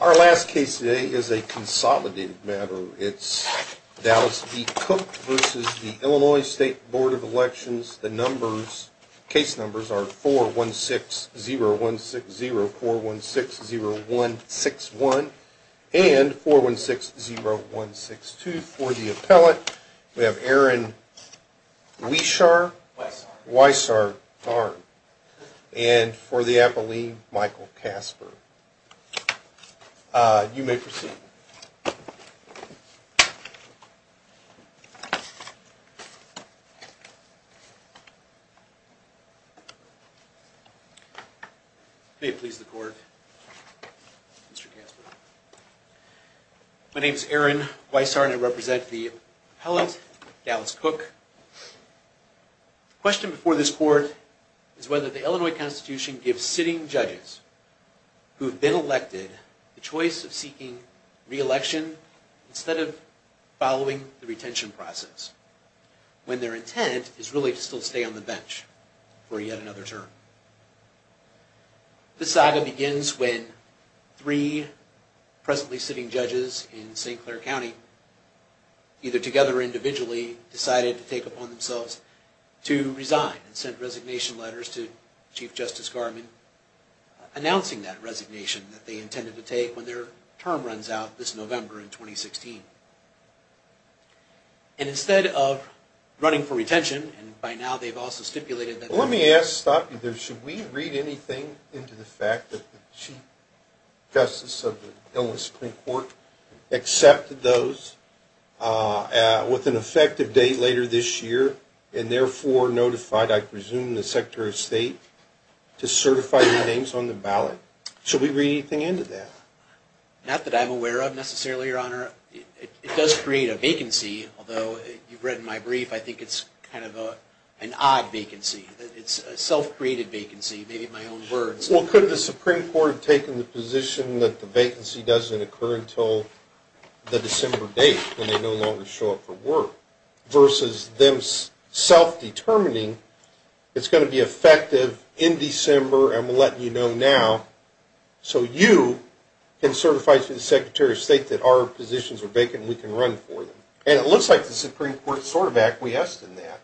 Our last case today is a consolidated matter. It's Dallas v. Cook v. Illinois State Board of Elections. The case numbers are 4160160, 4160161, and 4160162. For the appellate, we have Aaron Wieschar, and for the appellee, Michael Casper. Mr. Casper, you may proceed. May it please the Court, Mr. Casper. My name is Aaron Wieschar, and I represent the appellate, Dallas Cook. The question before this Court is whether the Illinois Constitution gives sitting judges who have been elected the choice of seeking re-election instead of following the retention process, when their intent is really to still stay on the bench for yet another term. The saga begins when three presently sitting judges in St. Clair County, either together or individually, decided to take it upon themselves to resign, and sent resignation letters to Chief Justice Garvin, announcing that resignation that they intended to take when their term runs out this November in 2016. And instead of running for retention, and by now they've also stipulated that... Let me ask, should we read anything into the fact that the Chief Justice of the Illinois Supreme Court accepted those with an effective date later this year, and therefore notified, I presume, the Secretary of State to certify the names on the ballot? Should we read anything into that? Not that I'm aware of, necessarily, Your Honor. It does create a vacancy, although you've read my brief, I think it's kind of an odd vacancy. It's a self-created vacancy, maybe in my own words. Well, could the Supreme Court have taken the position that the vacancy doesn't occur until the December date, when they no longer show up for work, versus them self-determining, it's going to be effective in December, I'm letting you know now, so you can certify to the Secretary of State that our positions are vacant and we can run for them. And it looks like the Supreme Court sort of acquiesced in that.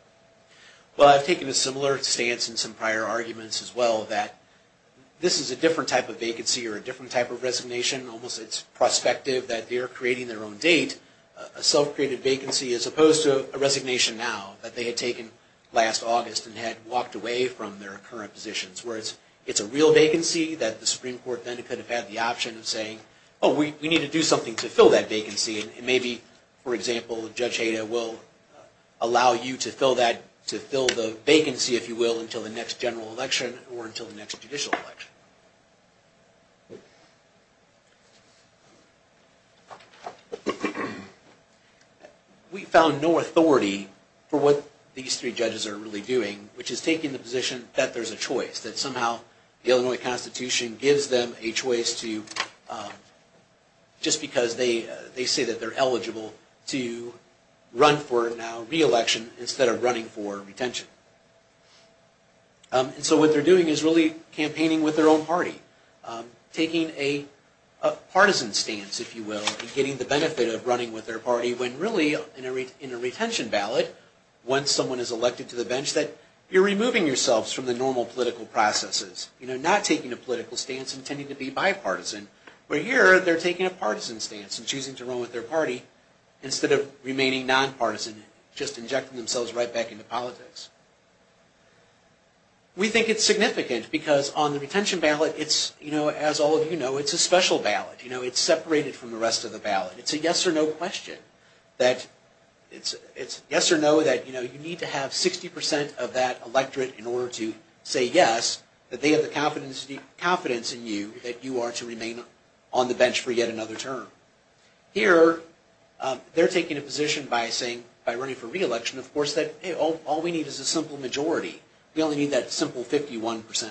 Well, I've taken a similar stance in some prior arguments, as well, that this is a different type of vacancy or a different type of resignation. Almost it's prospective that they're creating their own date, a self-created vacancy, as opposed to a resignation now that they had taken last August and had walked away from their current positions, where it's a real vacancy that the Supreme Court then could have had the option of saying, oh, we need to do something to fill that vacancy. And maybe, for example, Judge Hayda will allow you to fill the vacancy, if you will, until the next general election or until the next judicial election. We found no authority for what these three judges are really doing, which is taking the position that there's a choice, that somehow the Illinois Constitution gives them a choice to, just because they say that they're eligible to run for it now, re-election, instead of running for retention. And so what they're doing is really campaigning with their own party, taking a partisan stance, if you will, and getting the benefit of running with their party, when really, in a retention ballot, once someone is elected to the bench, that you're removing yourselves from the normal political processes. You know, not taking a political stance and tending to be bipartisan. But here, they're taking a partisan stance and choosing to run with their party instead of remaining nonpartisan, just injecting themselves right back into politics. We think it's significant, because on the retention ballot, it's, you know, as all of you know, it's a special ballot. You know, it's separated from the rest of the ballot. It's a yes or no question. It's yes or no that, you know, you need to have 60% of that electorate in order to say yes, that they have the confidence in you that you are to remain on the bench for yet another term. Here, they're taking a position by saying, by running for re-election, of course, that all we need is a simple majority. We only need that simple 51%.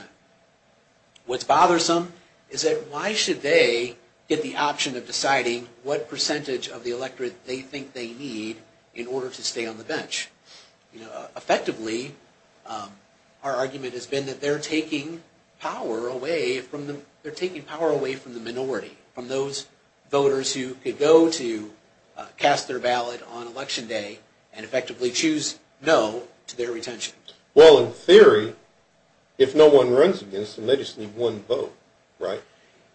What's bothersome is that why should they get the option of deciding what percentage of the electorate they think they need in order to stay on the bench? You know, effectively, our argument has been that they're taking power away from the minority, from those voters who could go to cast their ballot on election day and effectively choose no to their retention. Well, in theory, if no one runs against them, they just need one vote, right?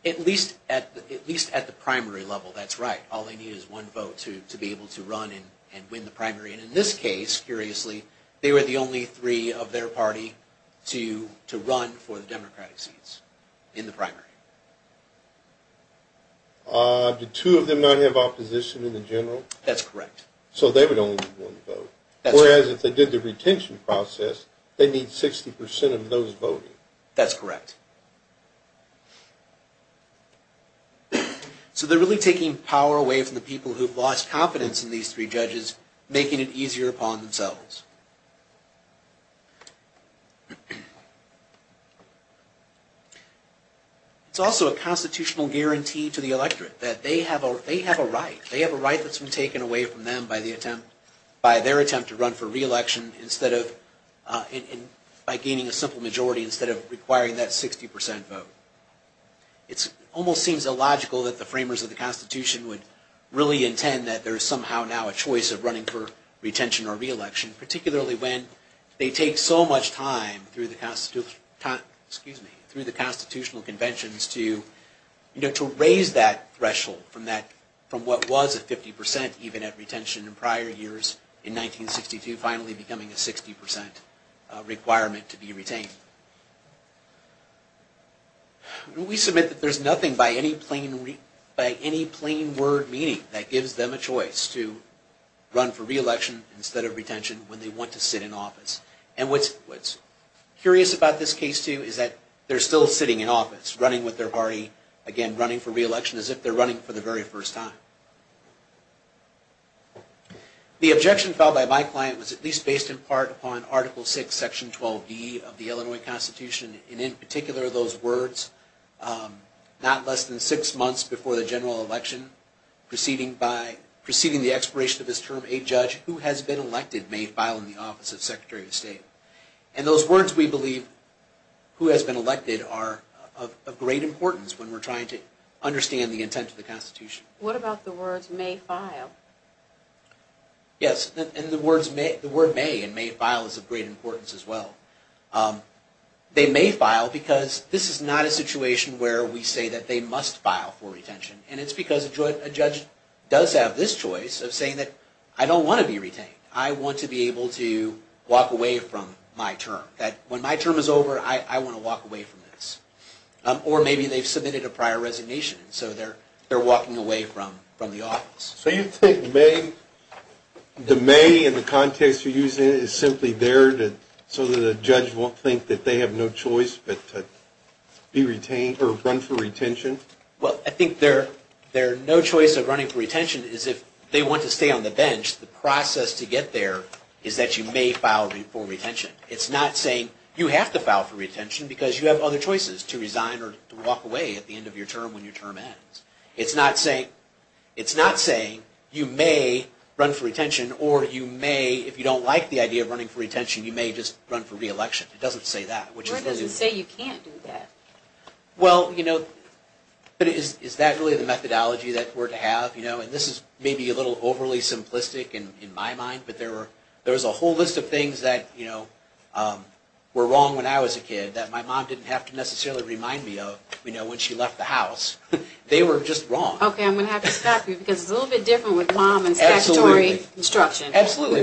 At least at the primary level, that's right. All they need is one vote to be able to run and win the primary. And in this case, curiously, they were the only three of their party to run for the Democratic seats in the primary. Do two of them not have opposition in the general? That's correct. So they would only need one vote. That's correct. Whereas if they did the retention process, they'd need 60% of those voting. That's correct. So they're really taking power away from the people who've lost confidence in these three judges, making it easier upon themselves. It's also a constitutional guarantee to the electorate that they have a right. They have a right that's been taken away from them by their attempt to run for re-election by gaining a simple majority instead of requiring that 60% vote. It almost seems illogical that the framers of the Constitution would really intend that there is somehow now a choice of running for retention or re-election, particularly when they take so much time through the constitutional conventions to raise that threshold from what was a 50% even at retention in prior years in 1962, finally becoming a 60% requirement to be retained. We submit that there's nothing by any plain word meaning that gives them a choice to run for re-election instead of retention when they want to sit in office. And what's curious about this case, too, is that they're still sitting in office, running with their party, again, running for re-election as if they're running for the very first time. The objection filed by my client was at least based in part on Article VI, Section 12B of the Illinois Constitution, and in particular those words, not less than six months before the general election, preceding the expiration of this term, a judge who has been elected may file in the office of Secretary of State. And those words, we believe, who has been elected are of great importance when we're trying to understand the intent of the Constitution. What about the words may file? Yes, and the word may and may file is of great importance as well. They may file because this is not a situation where we say that they must file for retention, and it's because a judge does have this choice of saying that I don't want to be retained. I want to be able to walk away from my term, that when my term is over, I want to walk away from this. Or maybe they've submitted a prior resignation, so they're walking away from the office. So you think the may in the context you're using is simply there so that a judge won't think that they have no choice but to run for retention? Well, I think their no choice of running for retention is if they want to stay on the bench. The process to get there is that you may file for retention. It's not saying you have to file for retention because you have other choices to resign or to walk away at the end of your term when your term ends. It's not saying you may run for retention or you may, if you don't like the idea of running for retention, you may just run for re-election. It doesn't say that. Where does it say you can't do that? Well, you know, is that really the methodology that we're to have? And this is maybe a little overly simplistic in my mind, but there was a whole list of things that were wrong when I was a kid that my mom didn't have to necessarily remind me of when she left the house. They were just wrong. Okay, I'm going to have to stop you because it's a little bit different with mom and statutory instruction. Absolutely.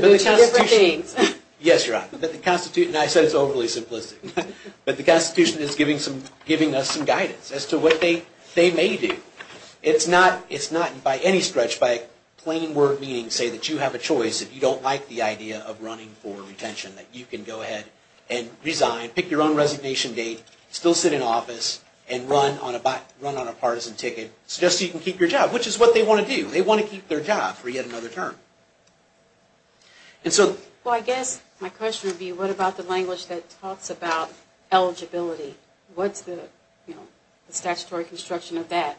Yes, you're right. The Constitution, and I said it's overly simplistic, but the Constitution is giving us some guidance as to what they may do. It's not by any stretch, by plain word meaning, say that you have a choice if you don't like the idea of running for retention, that you can go ahead and resign, pick your own resignation date, still sit in office, and run on a partisan ticket. It's just so you can keep your job, which is what they want to do. They want to keep their job for yet another term. Well, I guess my question would be, what about the language that talks about eligibility? What's the statutory construction of that?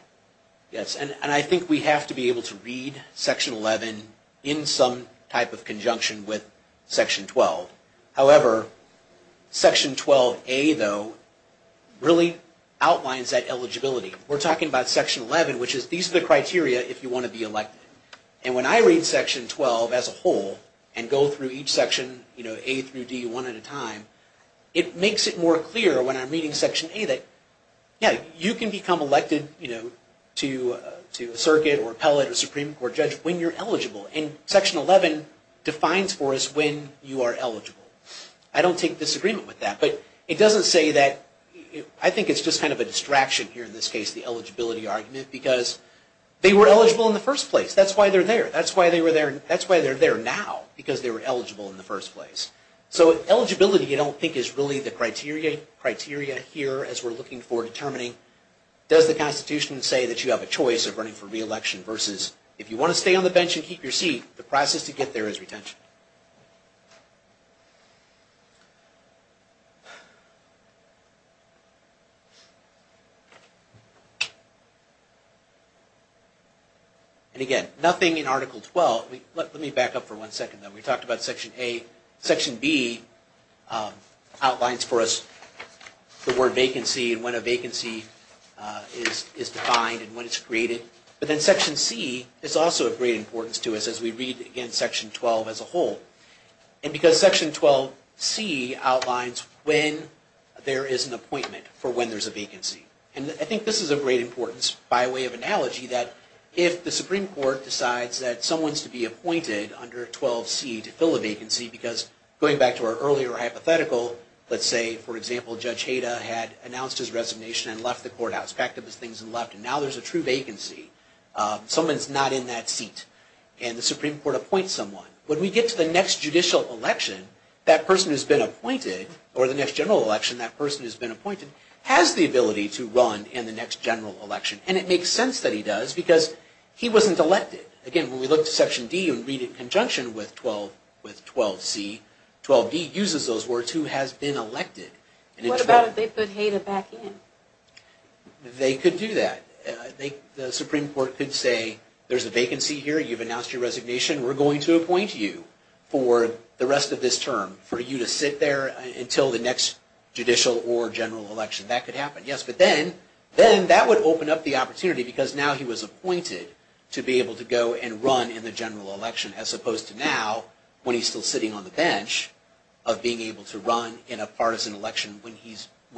Yes, and I think we have to be able to read Section 11 in some type of conjunction with Section 12. However, Section 12A, though, really outlines that eligibility. We're talking about Section 11, which is these are the criteria if you want to be elected. When I read Section 12 as a whole and go through each section, A through D, one at a time, it makes it more clear when I'm reading Section A that you can become elected to a circuit or appellate or Supreme Court judge when you're eligible. Section 11 defines for us when you are eligible. I don't take disagreement with that. I think it's just kind of a distraction here in this case, the eligibility argument, because they were eligible in the first place. That's why they're there. That's why they're there now, because they were eligible in the first place. So eligibility, I don't think, is really the criteria here as we're looking for determining does the Constitution say that you have a choice of running for re-election versus if you want to stay on the bench and keep your seat, the process to get there is retention. And again, nothing in Article 12. Let me back up for one second. We talked about Section A. Section B outlines for us the word vacancy and when a vacancy is defined and when it's created. But then Section C is also of great importance to us as we read, again, Section 12 as a whole. And because Section 12C outlines when there is an appointment for when there's a vacancy. And I think this is of great importance by way of analogy that if the Supreme Court decides that someone's to be appointed under 12C to fill a vacancy because going back to our earlier hypothetical, let's say, for example, Judge Hayda had announced his resignation and left the courthouse, packed up his things and left, and now there's a true vacancy. Someone's not in that seat. And the Supreme Court appoints someone. When we get to the next judicial election, that person has been appointed, or the next general election, that person has been appointed, has the ability to run in the next general election. And it makes sense that he does because he wasn't elected. Again, when we look at Section D and read it in conjunction with 12C, 12D uses those words, who has been elected. What about if they put Hayda back in? They could do that. The Supreme Court could say, there's a vacancy here. You've announced your resignation. We're going to appoint you for the rest of this term for you to sit there until the next judicial or general election. That could happen. Yes, but then that would open up the opportunity because now he was appointed to be able to go and run in the general election as opposed to now when he's still sitting on the bench of being able to run in a partisan election when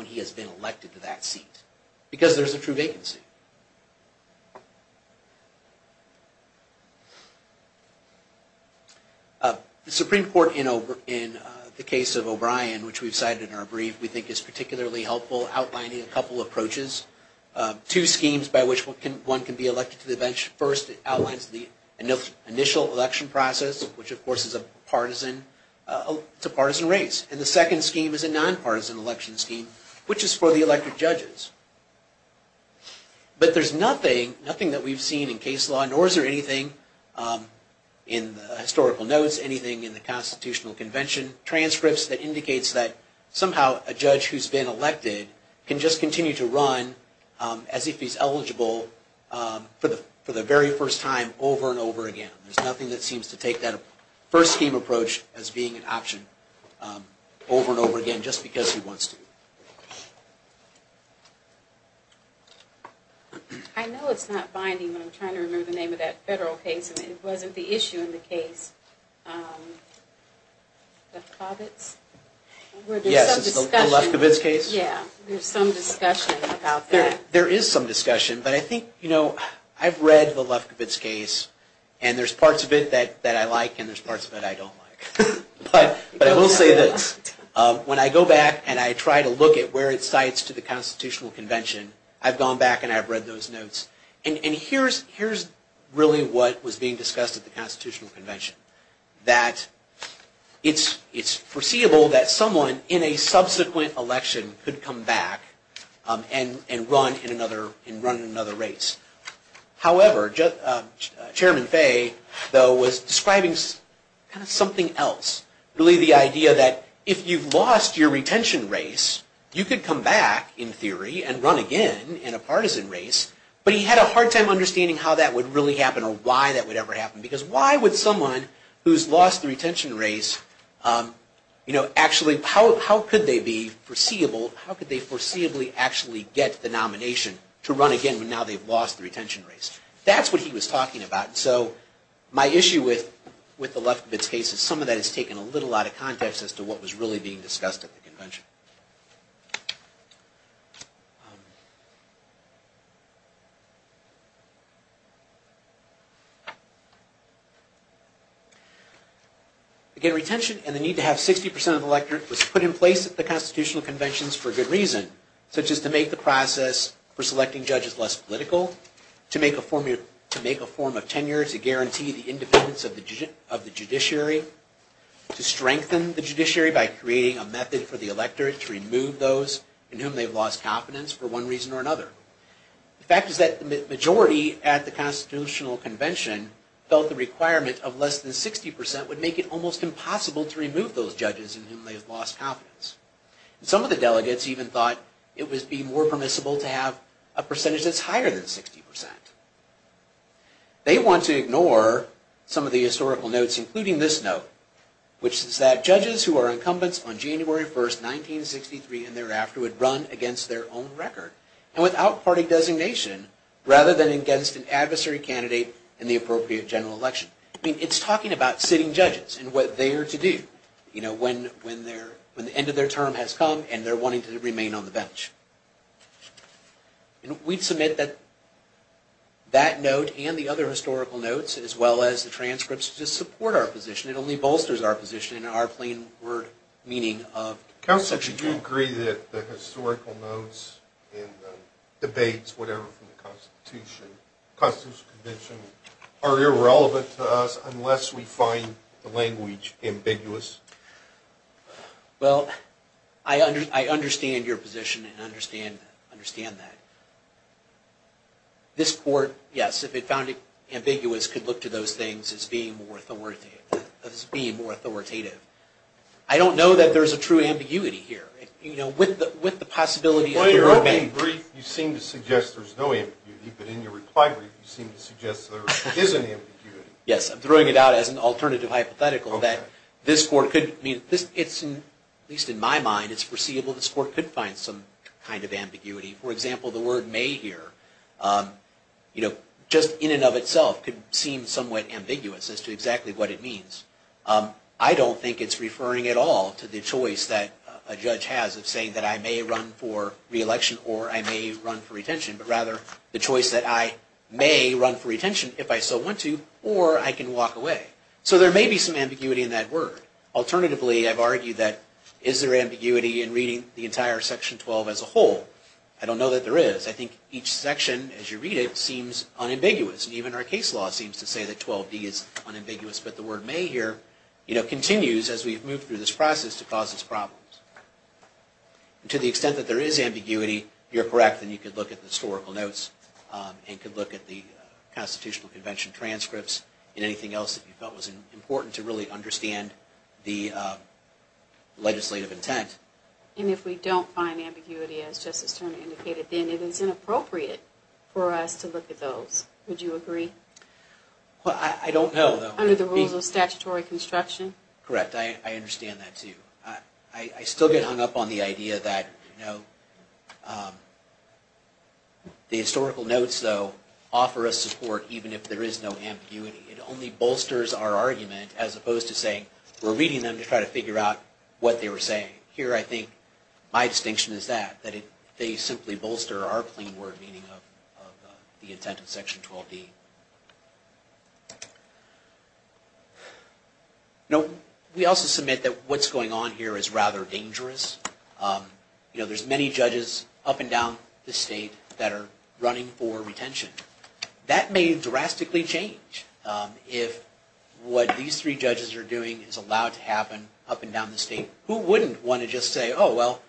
he has been elected to that seat because there's a true vacancy. The Supreme Court, in the case of O'Brien, which we've cited in our brief, we think is particularly helpful outlining a couple approaches. Two schemes by which one can be elected to the bench. First, it outlines the initial election process, which of course is a partisan race. And the second scheme is a nonpartisan election scheme, which is for the elected judges. But there's nothing that we've seen in case law, nor is there anything in the historical notes, anything in the Constitutional Convention transcripts that indicates that somehow a judge who's been elected can just continue to run as if he's eligible for the very first time over and over again. There's nothing that seems to take that first scheme approach as being an option over and over again just because he wants to. I know it's not binding, but I'm trying to remember the name of that federal case, and it wasn't the issue in the case, Lefkowitz? Yes, it's the Lefkowitz case. Yeah, there's some discussion about that. There is some discussion, but I think, you know, I've read the Lefkowitz case, and there's parts of it that I like and there's parts of it I don't like. But I will say this. When I go back and I try to look at where it cites to the Constitutional Convention, I've gone back and I've read those notes. And here's really what was being discussed at the Constitutional Convention, that it's foreseeable that someone in a subsequent election could come back and run in another race. However, Chairman Fay, though, was describing kind of something else. Really the idea that if you've lost your retention race, you could come back in theory and run again in a partisan race, but he had a hard time understanding how that would really happen or why that would ever happen. Because why would someone who's lost the retention race, you know, actually, how could they be foreseeable, how could they foreseeably actually get the nomination to run again when now they've lost the retention race? That's what he was talking about. So my issue with the Lefkowitz case is some of that has taken a little out of context as to what was really being discussed at the Convention. Again, retention and the need to have 60% of the electorate was put in place at the Constitutional Conventions for good reason, such as to make the process for selecting judges less political, to make a form of tenure to guarantee the independence of the judiciary, to strengthen the judiciary by creating a method for the electorate to remove those in whom they've lost confidence for one reason or another. The fact is that the majority at the Constitutional Convention felt the requirement of less than 60% would make it almost impossible to remove those judges in whom they've lost confidence. Some of the delegates even thought it would be more permissible to have a percentage that's higher than 60%. They want to ignore some of the historical notes, including this note, which says that judges who are incumbents on January 1, 1963 and thereafter would run against their own record and without party designation rather than against an adversary candidate in the appropriate general election. It's talking about sitting judges and what they are to do when the end of their term has come and they're wanting to remain on the bench. We'd submit that that note and the other historical notes, as well as the transcripts, just support our position. It only bolsters our position and our plain word meaning of Section 10. Counsel, do you agree that the historical notes and the debates, whatever, from the Constitutional Convention are irrelevant to us unless we find the language ambiguous? Well, I understand your position and understand that. This Court, yes, if it found it ambiguous, could look to those things as being more authoritative. I don't know that there's a true ambiguity here. With the possibility of your opinion... In your opening brief, you seem to suggest there's no ambiguity, but in your reply brief, you seem to suggest there is an ambiguity. Yes, I'm throwing it out as an alternative hypothetical that this Court could... At least in my mind, it's foreseeable this Court could find some kind of ambiguity. For example, the word may here, just in and of itself, could seem somewhat ambiguous as to exactly what it means. I don't think it's referring at all to the choice that a judge has of saying that I may run for re-election or I may run for retention, but rather the choice that I may run for retention if I so want to, or I can walk away. So there may be some ambiguity in that word. Alternatively, I've argued that is there ambiguity in reading the entire Section 12 as a whole? I don't know that there is. I think each section, as you read it, seems unambiguous. Even our case law seems to say that 12d is unambiguous, but the word may here continues as we've moved through this process to cause us problems. To the extent that there is ambiguity, you're correct. You could look at the historical notes and you could look at the Constitutional Convention transcripts and anything else that you felt was important to really understand the legislative intent. And if we don't find ambiguity, as Justice Turner indicated, then it is inappropriate for us to look at those. Would you agree? I don't know. Under the rules of statutory construction? Correct. I understand that, too. I still get hung up on the idea that the historical notes, though, offer us support even if there is no ambiguity. It only bolsters our argument as opposed to saying we're reading them to try to figure out what they were saying. Here, I think my distinction is that. They simply bolster our plain word meaning of the intent of Section 12d. We also submit that what's going on here is rather dangerous. There's many judges up and down the state that are running for retention. That may drastically change if what these three judges are doing is allowed to happen up and down the state. Who wouldn't want to just say, oh, well,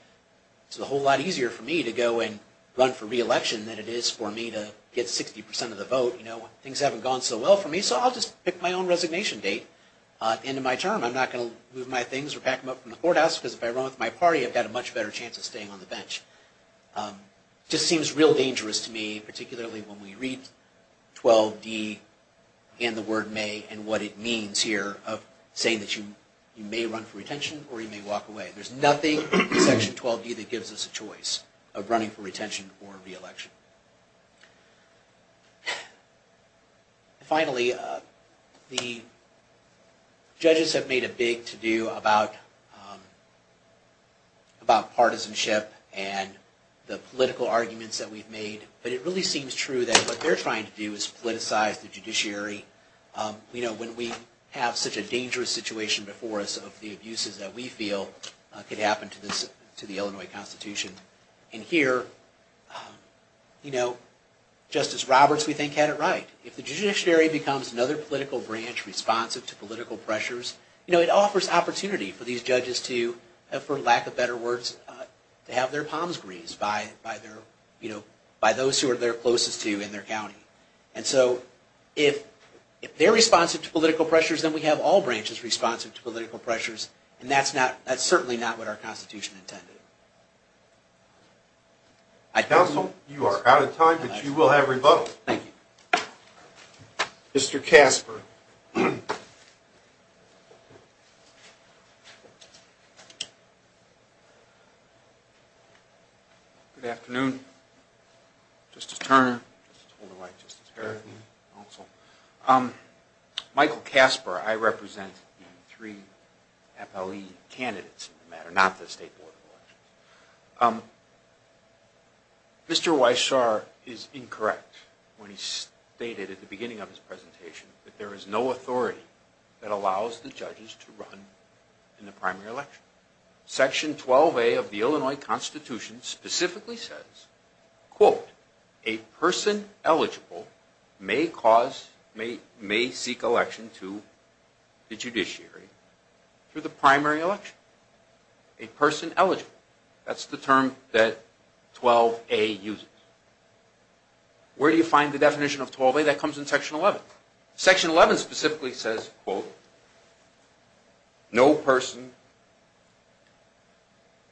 it's a whole lot easier for me to go and run for re-election than it is for me to get 60 percent of the vote. Things haven't gone so well for me, so I'll just pick my own resignation date at the end of my term. I'm not going to move my things or pack them up from the courthouse because if I run with my party, I've got a much better chance of staying on the bench. It just seems real dangerous to me, particularly when we read 12d and the word may and what it means here of saying that you may run for retention or you may walk away. There's nothing in Section 12d that gives us a choice of running for retention or re-election. Finally, the judges have made a big to-do about partisanship and the political arguments that we've made, but it really seems true that what they're trying to do is politicize the judiciary. When we have such a dangerous situation before us of the abuses that we feel could happen to the Illinois Constitution, and here Justice Roberts, we think, had it right. If the judiciary becomes another political branch responsive to political pressures, it offers opportunity for these judges to, for lack of better words, to have their palms greased by those who are their closest to in their county. If they're responsive to political pressures, then we have all branches responsive to political pressures, and that's certainly not what our Constitution intended. Counsel, you are out of time, but you will have rebuttal. Thank you. Mr. Casper. Good afternoon. Justice Turner, Justice Holder-White, Justice Harrington, counsel. Michael Casper. I represent the three appellee candidates in the matter, not the State Board of Elections. Mr. Weishar is incorrect when he stated at the beginning of his presentation that there is no authority that allows the judges to run in the primary election. Section 12A of the Illinois Constitution specifically says, quote, a person eligible may cause, may seek election to the judiciary through the primary election. A person eligible, that's the term that 12A uses. Where do you find the definition of 12A? That comes in Section 11. Section 11 specifically says, quote, no person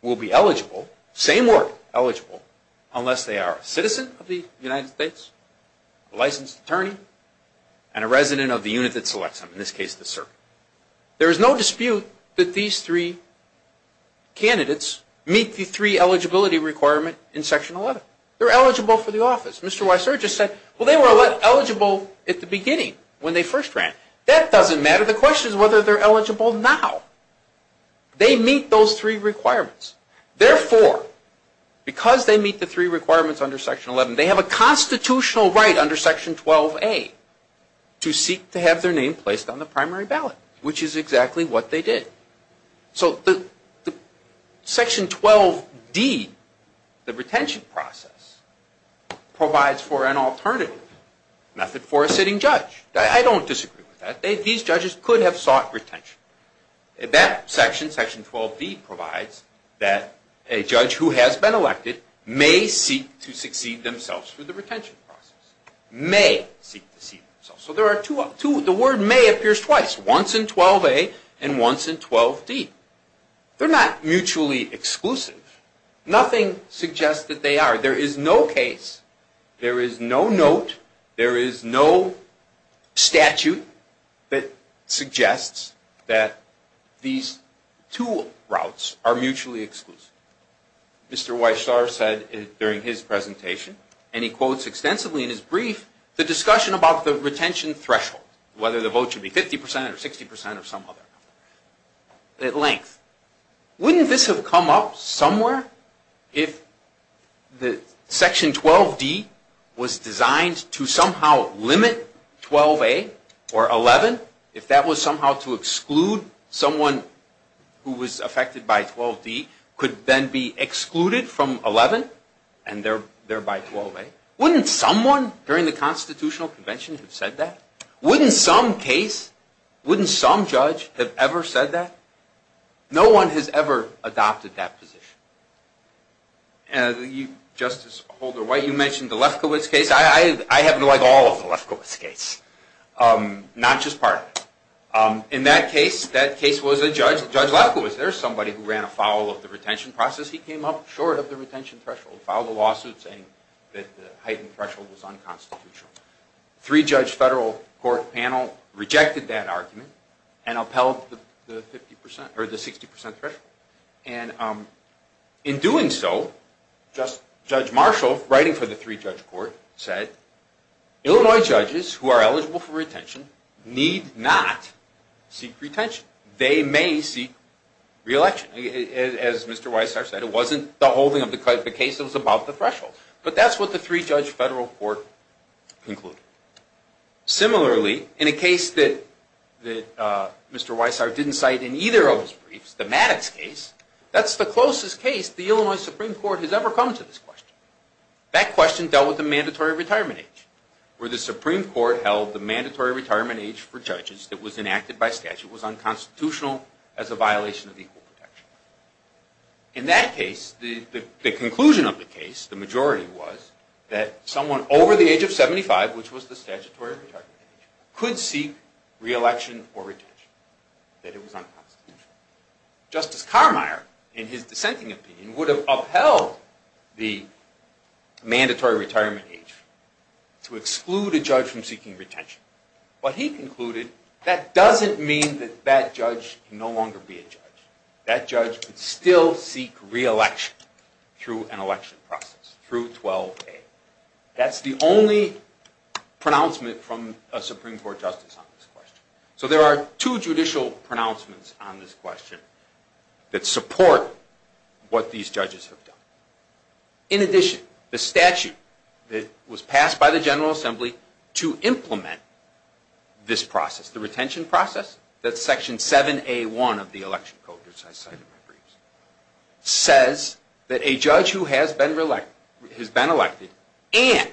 will be eligible, same word, eligible, unless they are a citizen of the United States, a licensed attorney, and a resident of the unit that selects them, in this case the circuit. There is no dispute that these three candidates meet the three eligibility requirement in Section 11. They're eligible for the office. Mr. Weishar just said, well, they were eligible at the beginning when they first ran. That doesn't matter. The question is whether they're eligible now. They meet those three requirements. Therefore, because they meet the three requirements under Section 11, they have a constitutional right under Section 12A to seek to have their name placed on the primary ballot, which is exactly what they did. So Section 12D, the retention process, provides for an alternative method for a sitting judge. I don't disagree with that. These judges could have sought retention. That section, Section 12B, provides that a judge who has been elected may seek to succeed themselves through the retention process. May seek to succeed themselves. The word may appears twice, once in 12A and once in 12D. They're not mutually exclusive. Nothing suggests that they are. There is no case, there is no note, there is no statute that suggests that these two routes are mutually exclusive. Mr. Weishar said during his presentation, and he quotes extensively in his brief, the discussion about the retention threshold, whether the vote should be 50% or 60% or some other number, at length. Wouldn't this have come up somewhere if Section 12D was designed to somehow limit 12A or 11? If that was somehow to exclude someone who was affected by 12D, could then be excluded from 11 and thereby 12A? Wouldn't someone during the Constitutional Convention have said that? Wouldn't some case, wouldn't some judge have ever said that? No one has ever adopted that position. Justice Holder-White, you mentioned the Lefkowitz case. I happen to like all of the Lefkowitz case, not just part of it. In that case, that case was a judge. Judge Lefkowitz, there was somebody who ran afoul of the retention process. He came up short of the retention threshold, filed a lawsuit saying that the heightened threshold was unconstitutional. Three-judge federal court panel rejected that argument and upheld the 60% threshold. In doing so, Judge Marshall, writing for the three-judge court, said, Illinois judges who are eligible for retention need not seek retention. They may seek re-election. As Mr. Weissart said, it wasn't the holding of the case that was above the threshold. But that's what the three-judge federal court concluded. Similarly, in a case that Mr. Weissart didn't cite in either of his briefs, the Maddox case, that's the closest case the Illinois Supreme Court has ever come to this question. That question dealt with the mandatory retirement age, where the Supreme Court held the mandatory retirement age for judges that was enacted by statute was unconstitutional as a violation of the Equal Protection Act. In that case, the conclusion of the case, the majority was, that someone over the age of 75, which was the statutory retirement age, could seek re-election or retention. That it was unconstitutional. Justice Carmeier, in his dissenting opinion, would have upheld the mandatory retirement age to exclude a judge from seeking retention. But he concluded, that doesn't mean that that judge can no longer be a judge. That judge could still seek re-election through an election process, through 12A. That's the only pronouncement from a Supreme Court justice on this question. So there are two judicial pronouncements on this question that support what these judges have done. In addition, the statute that was passed by the General Assembly to implement this process, the retention process, that's Section 7A1 of the Election Code, which I cited in my briefs, says that a judge who has been elected and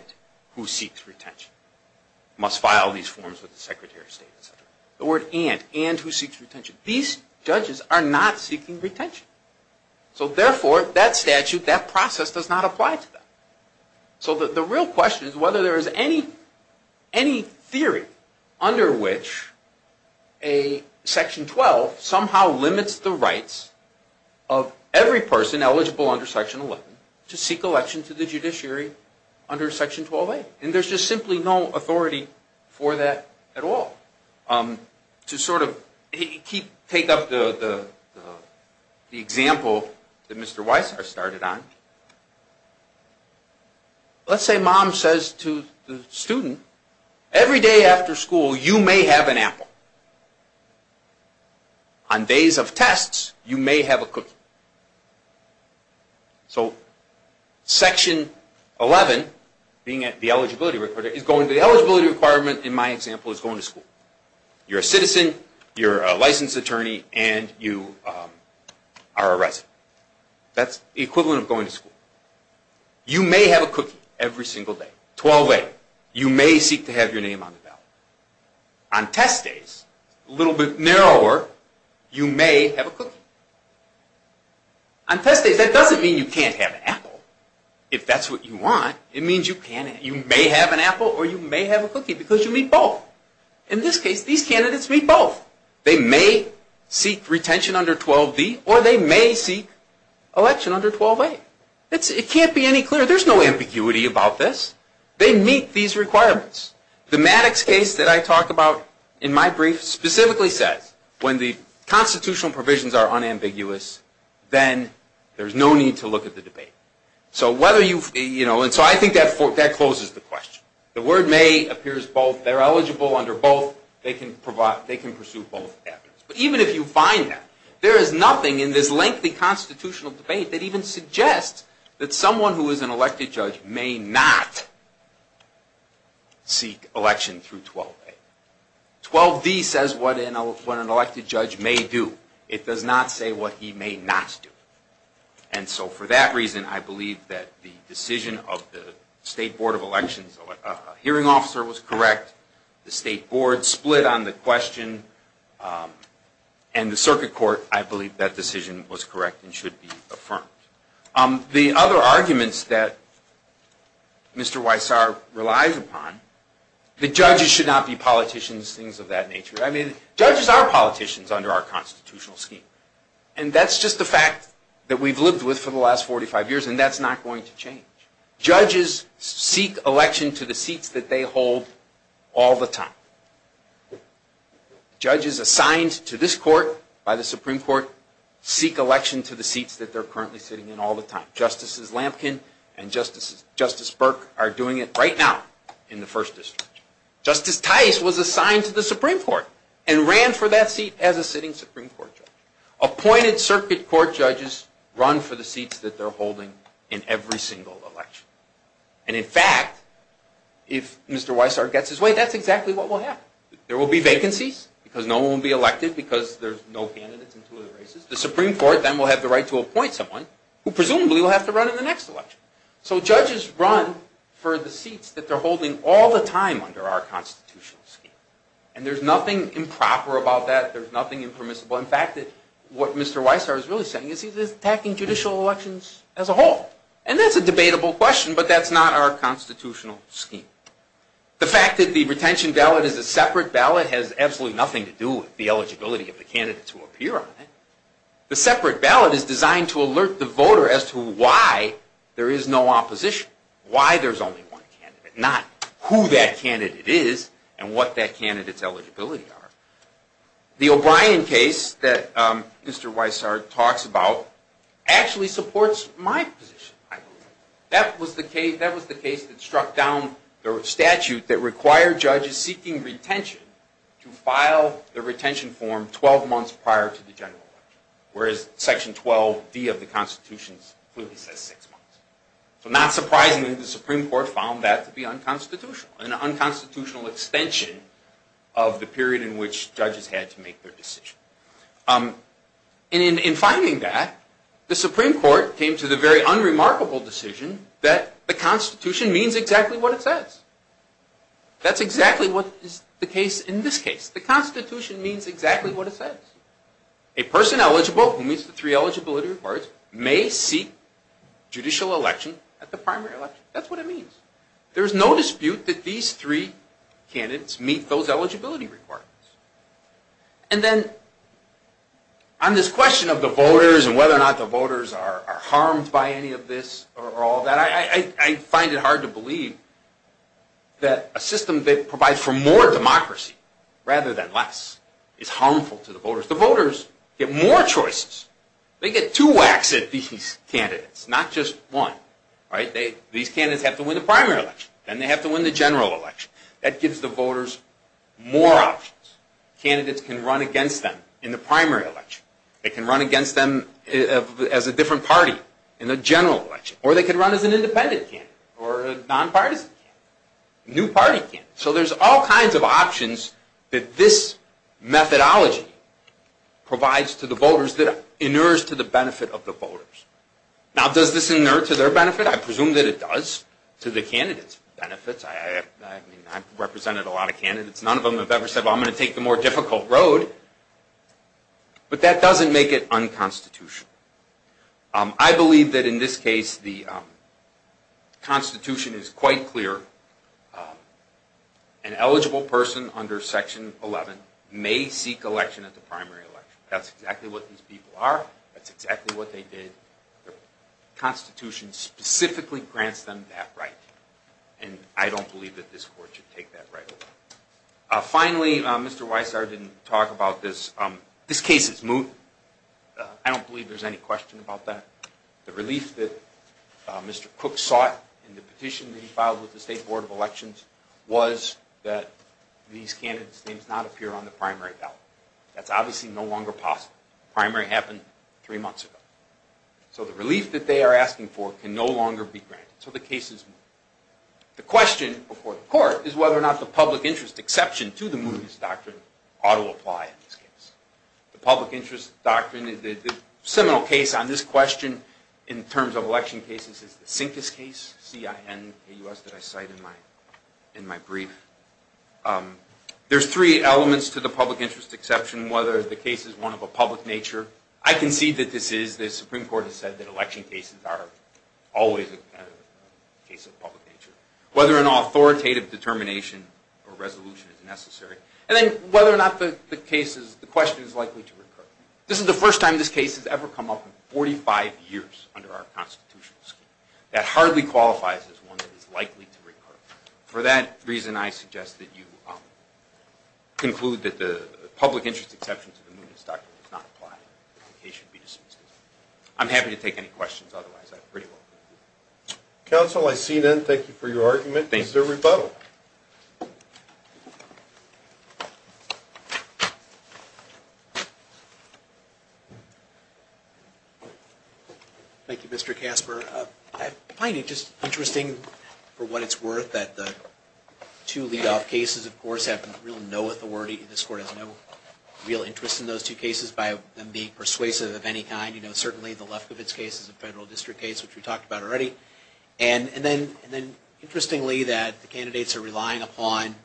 who seeks retention must file these forms with the Secretary of State, etc. The word and, and who seeks retention. These judges are not seeking retention. So therefore, that statute, that process does not apply to them. So the real question is whether there is any, any theory under which a Section 12 somehow limits the rights of every person eligible under Section 11 to seek election to the judiciary under Section 12A. And there's just simply no authority for that at all. To sort of take up the example that Mr. Weisshardt started on, let's say Mom says to the student, every day after school you may have an apple. On days of tests, you may have a cookie. So Section 11, being the eligibility requirement, in my example, is going to school. You're a citizen, you're a licensed attorney, and you are a resident. That's the equivalent of going to school. You may have a cookie every single day. 12A, you may seek to have your name on the ballot. On test days, a little bit narrower, you may have a cookie. On test days, that doesn't mean you can't have an apple. If that's what you want, it means you may have an apple or you may have a cookie because you meet both. In this case, these candidates meet both. They may seek retention under 12B or they may seek election under 12A. It can't be any clearer. There's no ambiguity about this. They meet these requirements. The Maddox case that I talk about in my brief specifically says when the constitutional provisions are unambiguous, then there's no need to look at the debate. So I think that closes the question. The word may appears both. They're eligible under both. They can pursue both avenues. But even if you find that, there is nothing in this lengthy constitutional debate that even suggests that someone who is an elected judge may not seek election through 12A. 12D says what an elected judge may do. It does not say what he may not do. And so for that reason, I believe that the decision of the state board of elections, a hearing officer was correct. The state board split on the question. And the circuit court, I believe that decision was correct and should be affirmed. The other arguments that Mr. Weissar relies upon, the judges should not be politicians, things of that nature. I mean, judges are politicians under our constitutional scheme. And that's just a fact that we've lived with for the last 45 years, and that's not going to change. Judges seek election to the seats that they hold all the time. Judges assigned to this court by the Supreme Court seek election to the seats that they're currently sitting in all the time. Justices Lampkin and Justice Burke are doing it right now in the first district. Justice Tice was assigned to the Supreme Court and ran for that seat as a sitting Supreme Court judge. Appointed circuit court judges run for the seats that they're holding in every single election. And in fact, if Mr. Weissar gets his way, that's exactly what will happen. There will be vacancies because no one will be elected because there's no candidates in two of the races. The Supreme Court then will have the right to appoint someone who presumably will have to run in the next election. So judges run for the seats that they're holding all the time under our constitutional scheme. And there's nothing improper about that. There's nothing impermissible. In fact, what Mr. Weissar is really saying is he's attacking judicial elections as a whole. And that's a debatable question, but that's not our constitutional scheme. The fact that the retention ballot is a separate ballot has absolutely nothing to do with the eligibility of the candidates who appear on it. The separate ballot is designed to alert the voter as to why there is no opposition, why there's only one candidate, not who that candidate is and what that candidate's eligibility are. The O'Brien case that Mr. Weissar talks about actually supports my position, I believe. That was the case that struck down the statute that required judges seeking retention to file the retention form 12 months prior to the general election, whereas Section 12D of the Constitution clearly says six months. So not surprisingly, the Supreme Court found that to be unconstitutional, an unconstitutional extension of the period in which judges had to make their decision. In finding that, the Supreme Court came to the very unremarkable decision that the Constitution means exactly what it says. That's exactly what is the case in this case. The Constitution means exactly what it says. A person eligible, who meets the three eligibility requirements, may seek judicial election at the primary election. That's what it means. There's no dispute that these three candidates meet those eligibility requirements. And then on this question of the voters and whether or not the voters are harmed by any of this or all that, I find it hard to believe that a system that provides for more democracy rather than less is harmful to the voters. The voters get more choices. They get two whacks at these candidates, not just one. These candidates have to win the primary election. Then they have to win the general election. That gives the voters more options. Candidates can run against them in the primary election. They can run against them as a different party in the general election. Or they can run as an independent candidate or a non-partisan candidate, a new party candidate. So there's all kinds of options that this methodology provides to the voters that inures to the benefit of the voters. Now, does this inure to their benefit? I presume that it does to the candidates' benefits. I've represented a lot of candidates. None of them have ever said, well, I'm going to take the more difficult road. But that doesn't make it unconstitutional. I believe that in this case the Constitution is quite clear. An eligible person under Section 11 may seek election at the primary election. That's exactly what these people are. That's exactly what they did. The Constitution specifically grants them that right. And I don't believe that this court should take that right away. Finally, Mr. Weissard didn't talk about this. This case is moot. I don't believe there's any question about that. The relief that Mr. Cook sought in the petition that he filed with the State Board of Elections was that these candidates' names not appear on the primary ballot. That's obviously no longer possible. The primary happened three months ago. So the relief that they are asking for can no longer be granted. So the case is moot. The question before the court is whether or not the public interest exception to the mootness doctrine ought to apply in this case. The public interest doctrine is a seminal case on this question in terms of election cases. It's the Sincus case, C-I-N-U-S, that I cite in my brief. There's three elements to the public interest exception, whether the case is one of a public nature. I concede that this is. The Supreme Court has said that election cases are always a case of public nature. Whether an authoritative determination or resolution is necessary. And then whether or not the question is likely to recur. This is the first time this case has ever come up in 45 years under our constitutional scheme. That hardly qualifies as one that is likely to recur. For that reason, I suggest that you conclude that the public interest exception to the mootness doctrine does not apply. The case should be dismissed. I'm happy to take any questions otherwise. Counsel, I see none. Thank you for your argument. This is a rebuttal. Thank you, Mr. Casper. I find it just interesting for what it's worth that the two lead-off cases, of course, have no authority. This Court has no real interest in those two cases by them being persuasive of any kind. Certainly, the Lefkowitz case is a federal district case, which we talked about already. And then, interestingly, that the candidates are relying upon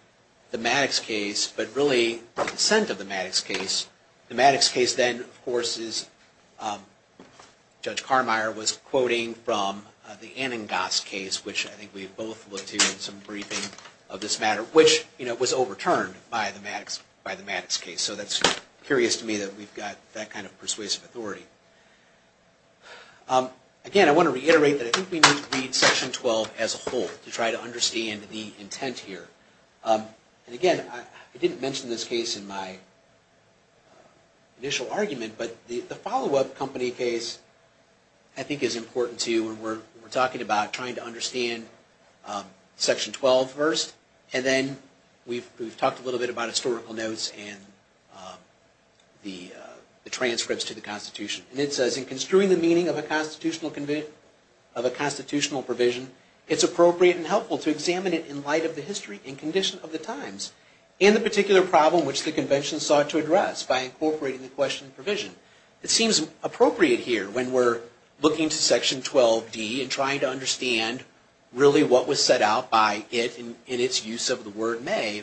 the Maddox case, but really the dissent of the Maddox case. The Maddox case then, of course, Judge Carmeier was quoting from the Anangas case, which I think we have both looked to in some briefing of this matter, which was overturned by the Maddox case. So that's curious to me that we've got that kind of persuasive authority. Again, I want to reiterate that I think we need to read Section 12 as a whole to try to understand the intent here. And again, I didn't mention this case in my initial argument, but the follow-up company case, I think, is important too. And we're talking about trying to understand Section 12 first. And then we've talked a little bit about historical notes and the transcripts to the Constitution. And it says, in construing the meaning of a constitutional provision, it's appropriate and helpful to examine it in light of the history and condition of the times, and the particular problem which the Convention sought to address by incorporating the question and provision. It seems appropriate here when we're looking to Section 12D and trying to understand really what was set out by it in its use of the word may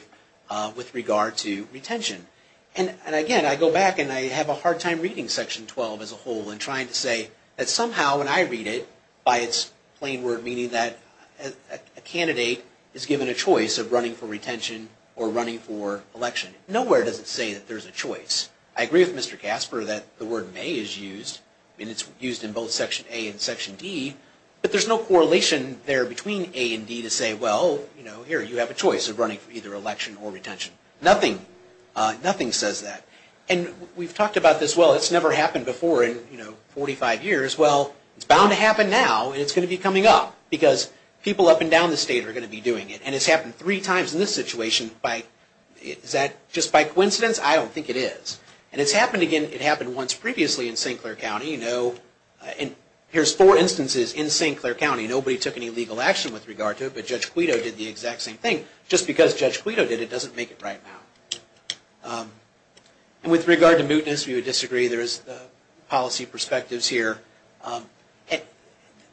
with regard to retention. And again, I go back and I have a hard time reading Section 12 as a whole and trying to say that somehow when I read it, by its plain word meaning that a candidate is given a choice of running for retention or running for election, nowhere does it say that there's a choice. I agree with Mr. Casper that the word may is used, and it's used in both Section A and Section D, but there's no correlation there between A and D to say, well, here you have a choice of running for either election or retention. Nothing says that. And we've talked about this, well, it's never happened before in 45 years. Well, it's bound to happen now, and it's going to be coming up, because people up and down the state are going to be doing it. And it's happened three times in this situation. Is that just by coincidence? I don't think it is. And it's happened again. It happened once previously in St. Clair County. Here's four instances in St. Clair County. Nobody took any legal action with regard to it, but Judge Quito did the exact same thing. Just because Judge Quito did it doesn't make it right now. And with regard to mootness, we would disagree. There is policy perspectives here.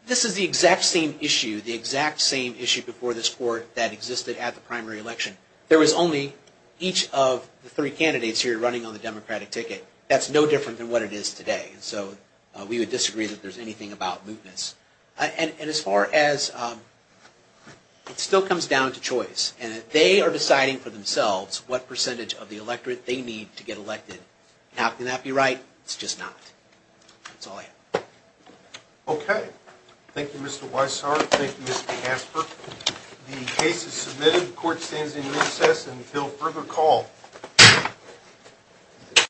This is the exact same issue, the exact same issue before this Court that existed at the primary election. There was only each of the three candidates here running on the Democratic ticket. That's no different than what it is today. So we would disagree that there's anything about mootness. And as far as, it still comes down to choice. And they are deciding for themselves what percentage of the electorate they need to get elected. Now, can that be right? It's just not. That's all I have. Okay. Thank you, Mr. Weisshaar. Thank you, Mr. Casper. The case is submitted. Court stands in recess until further call.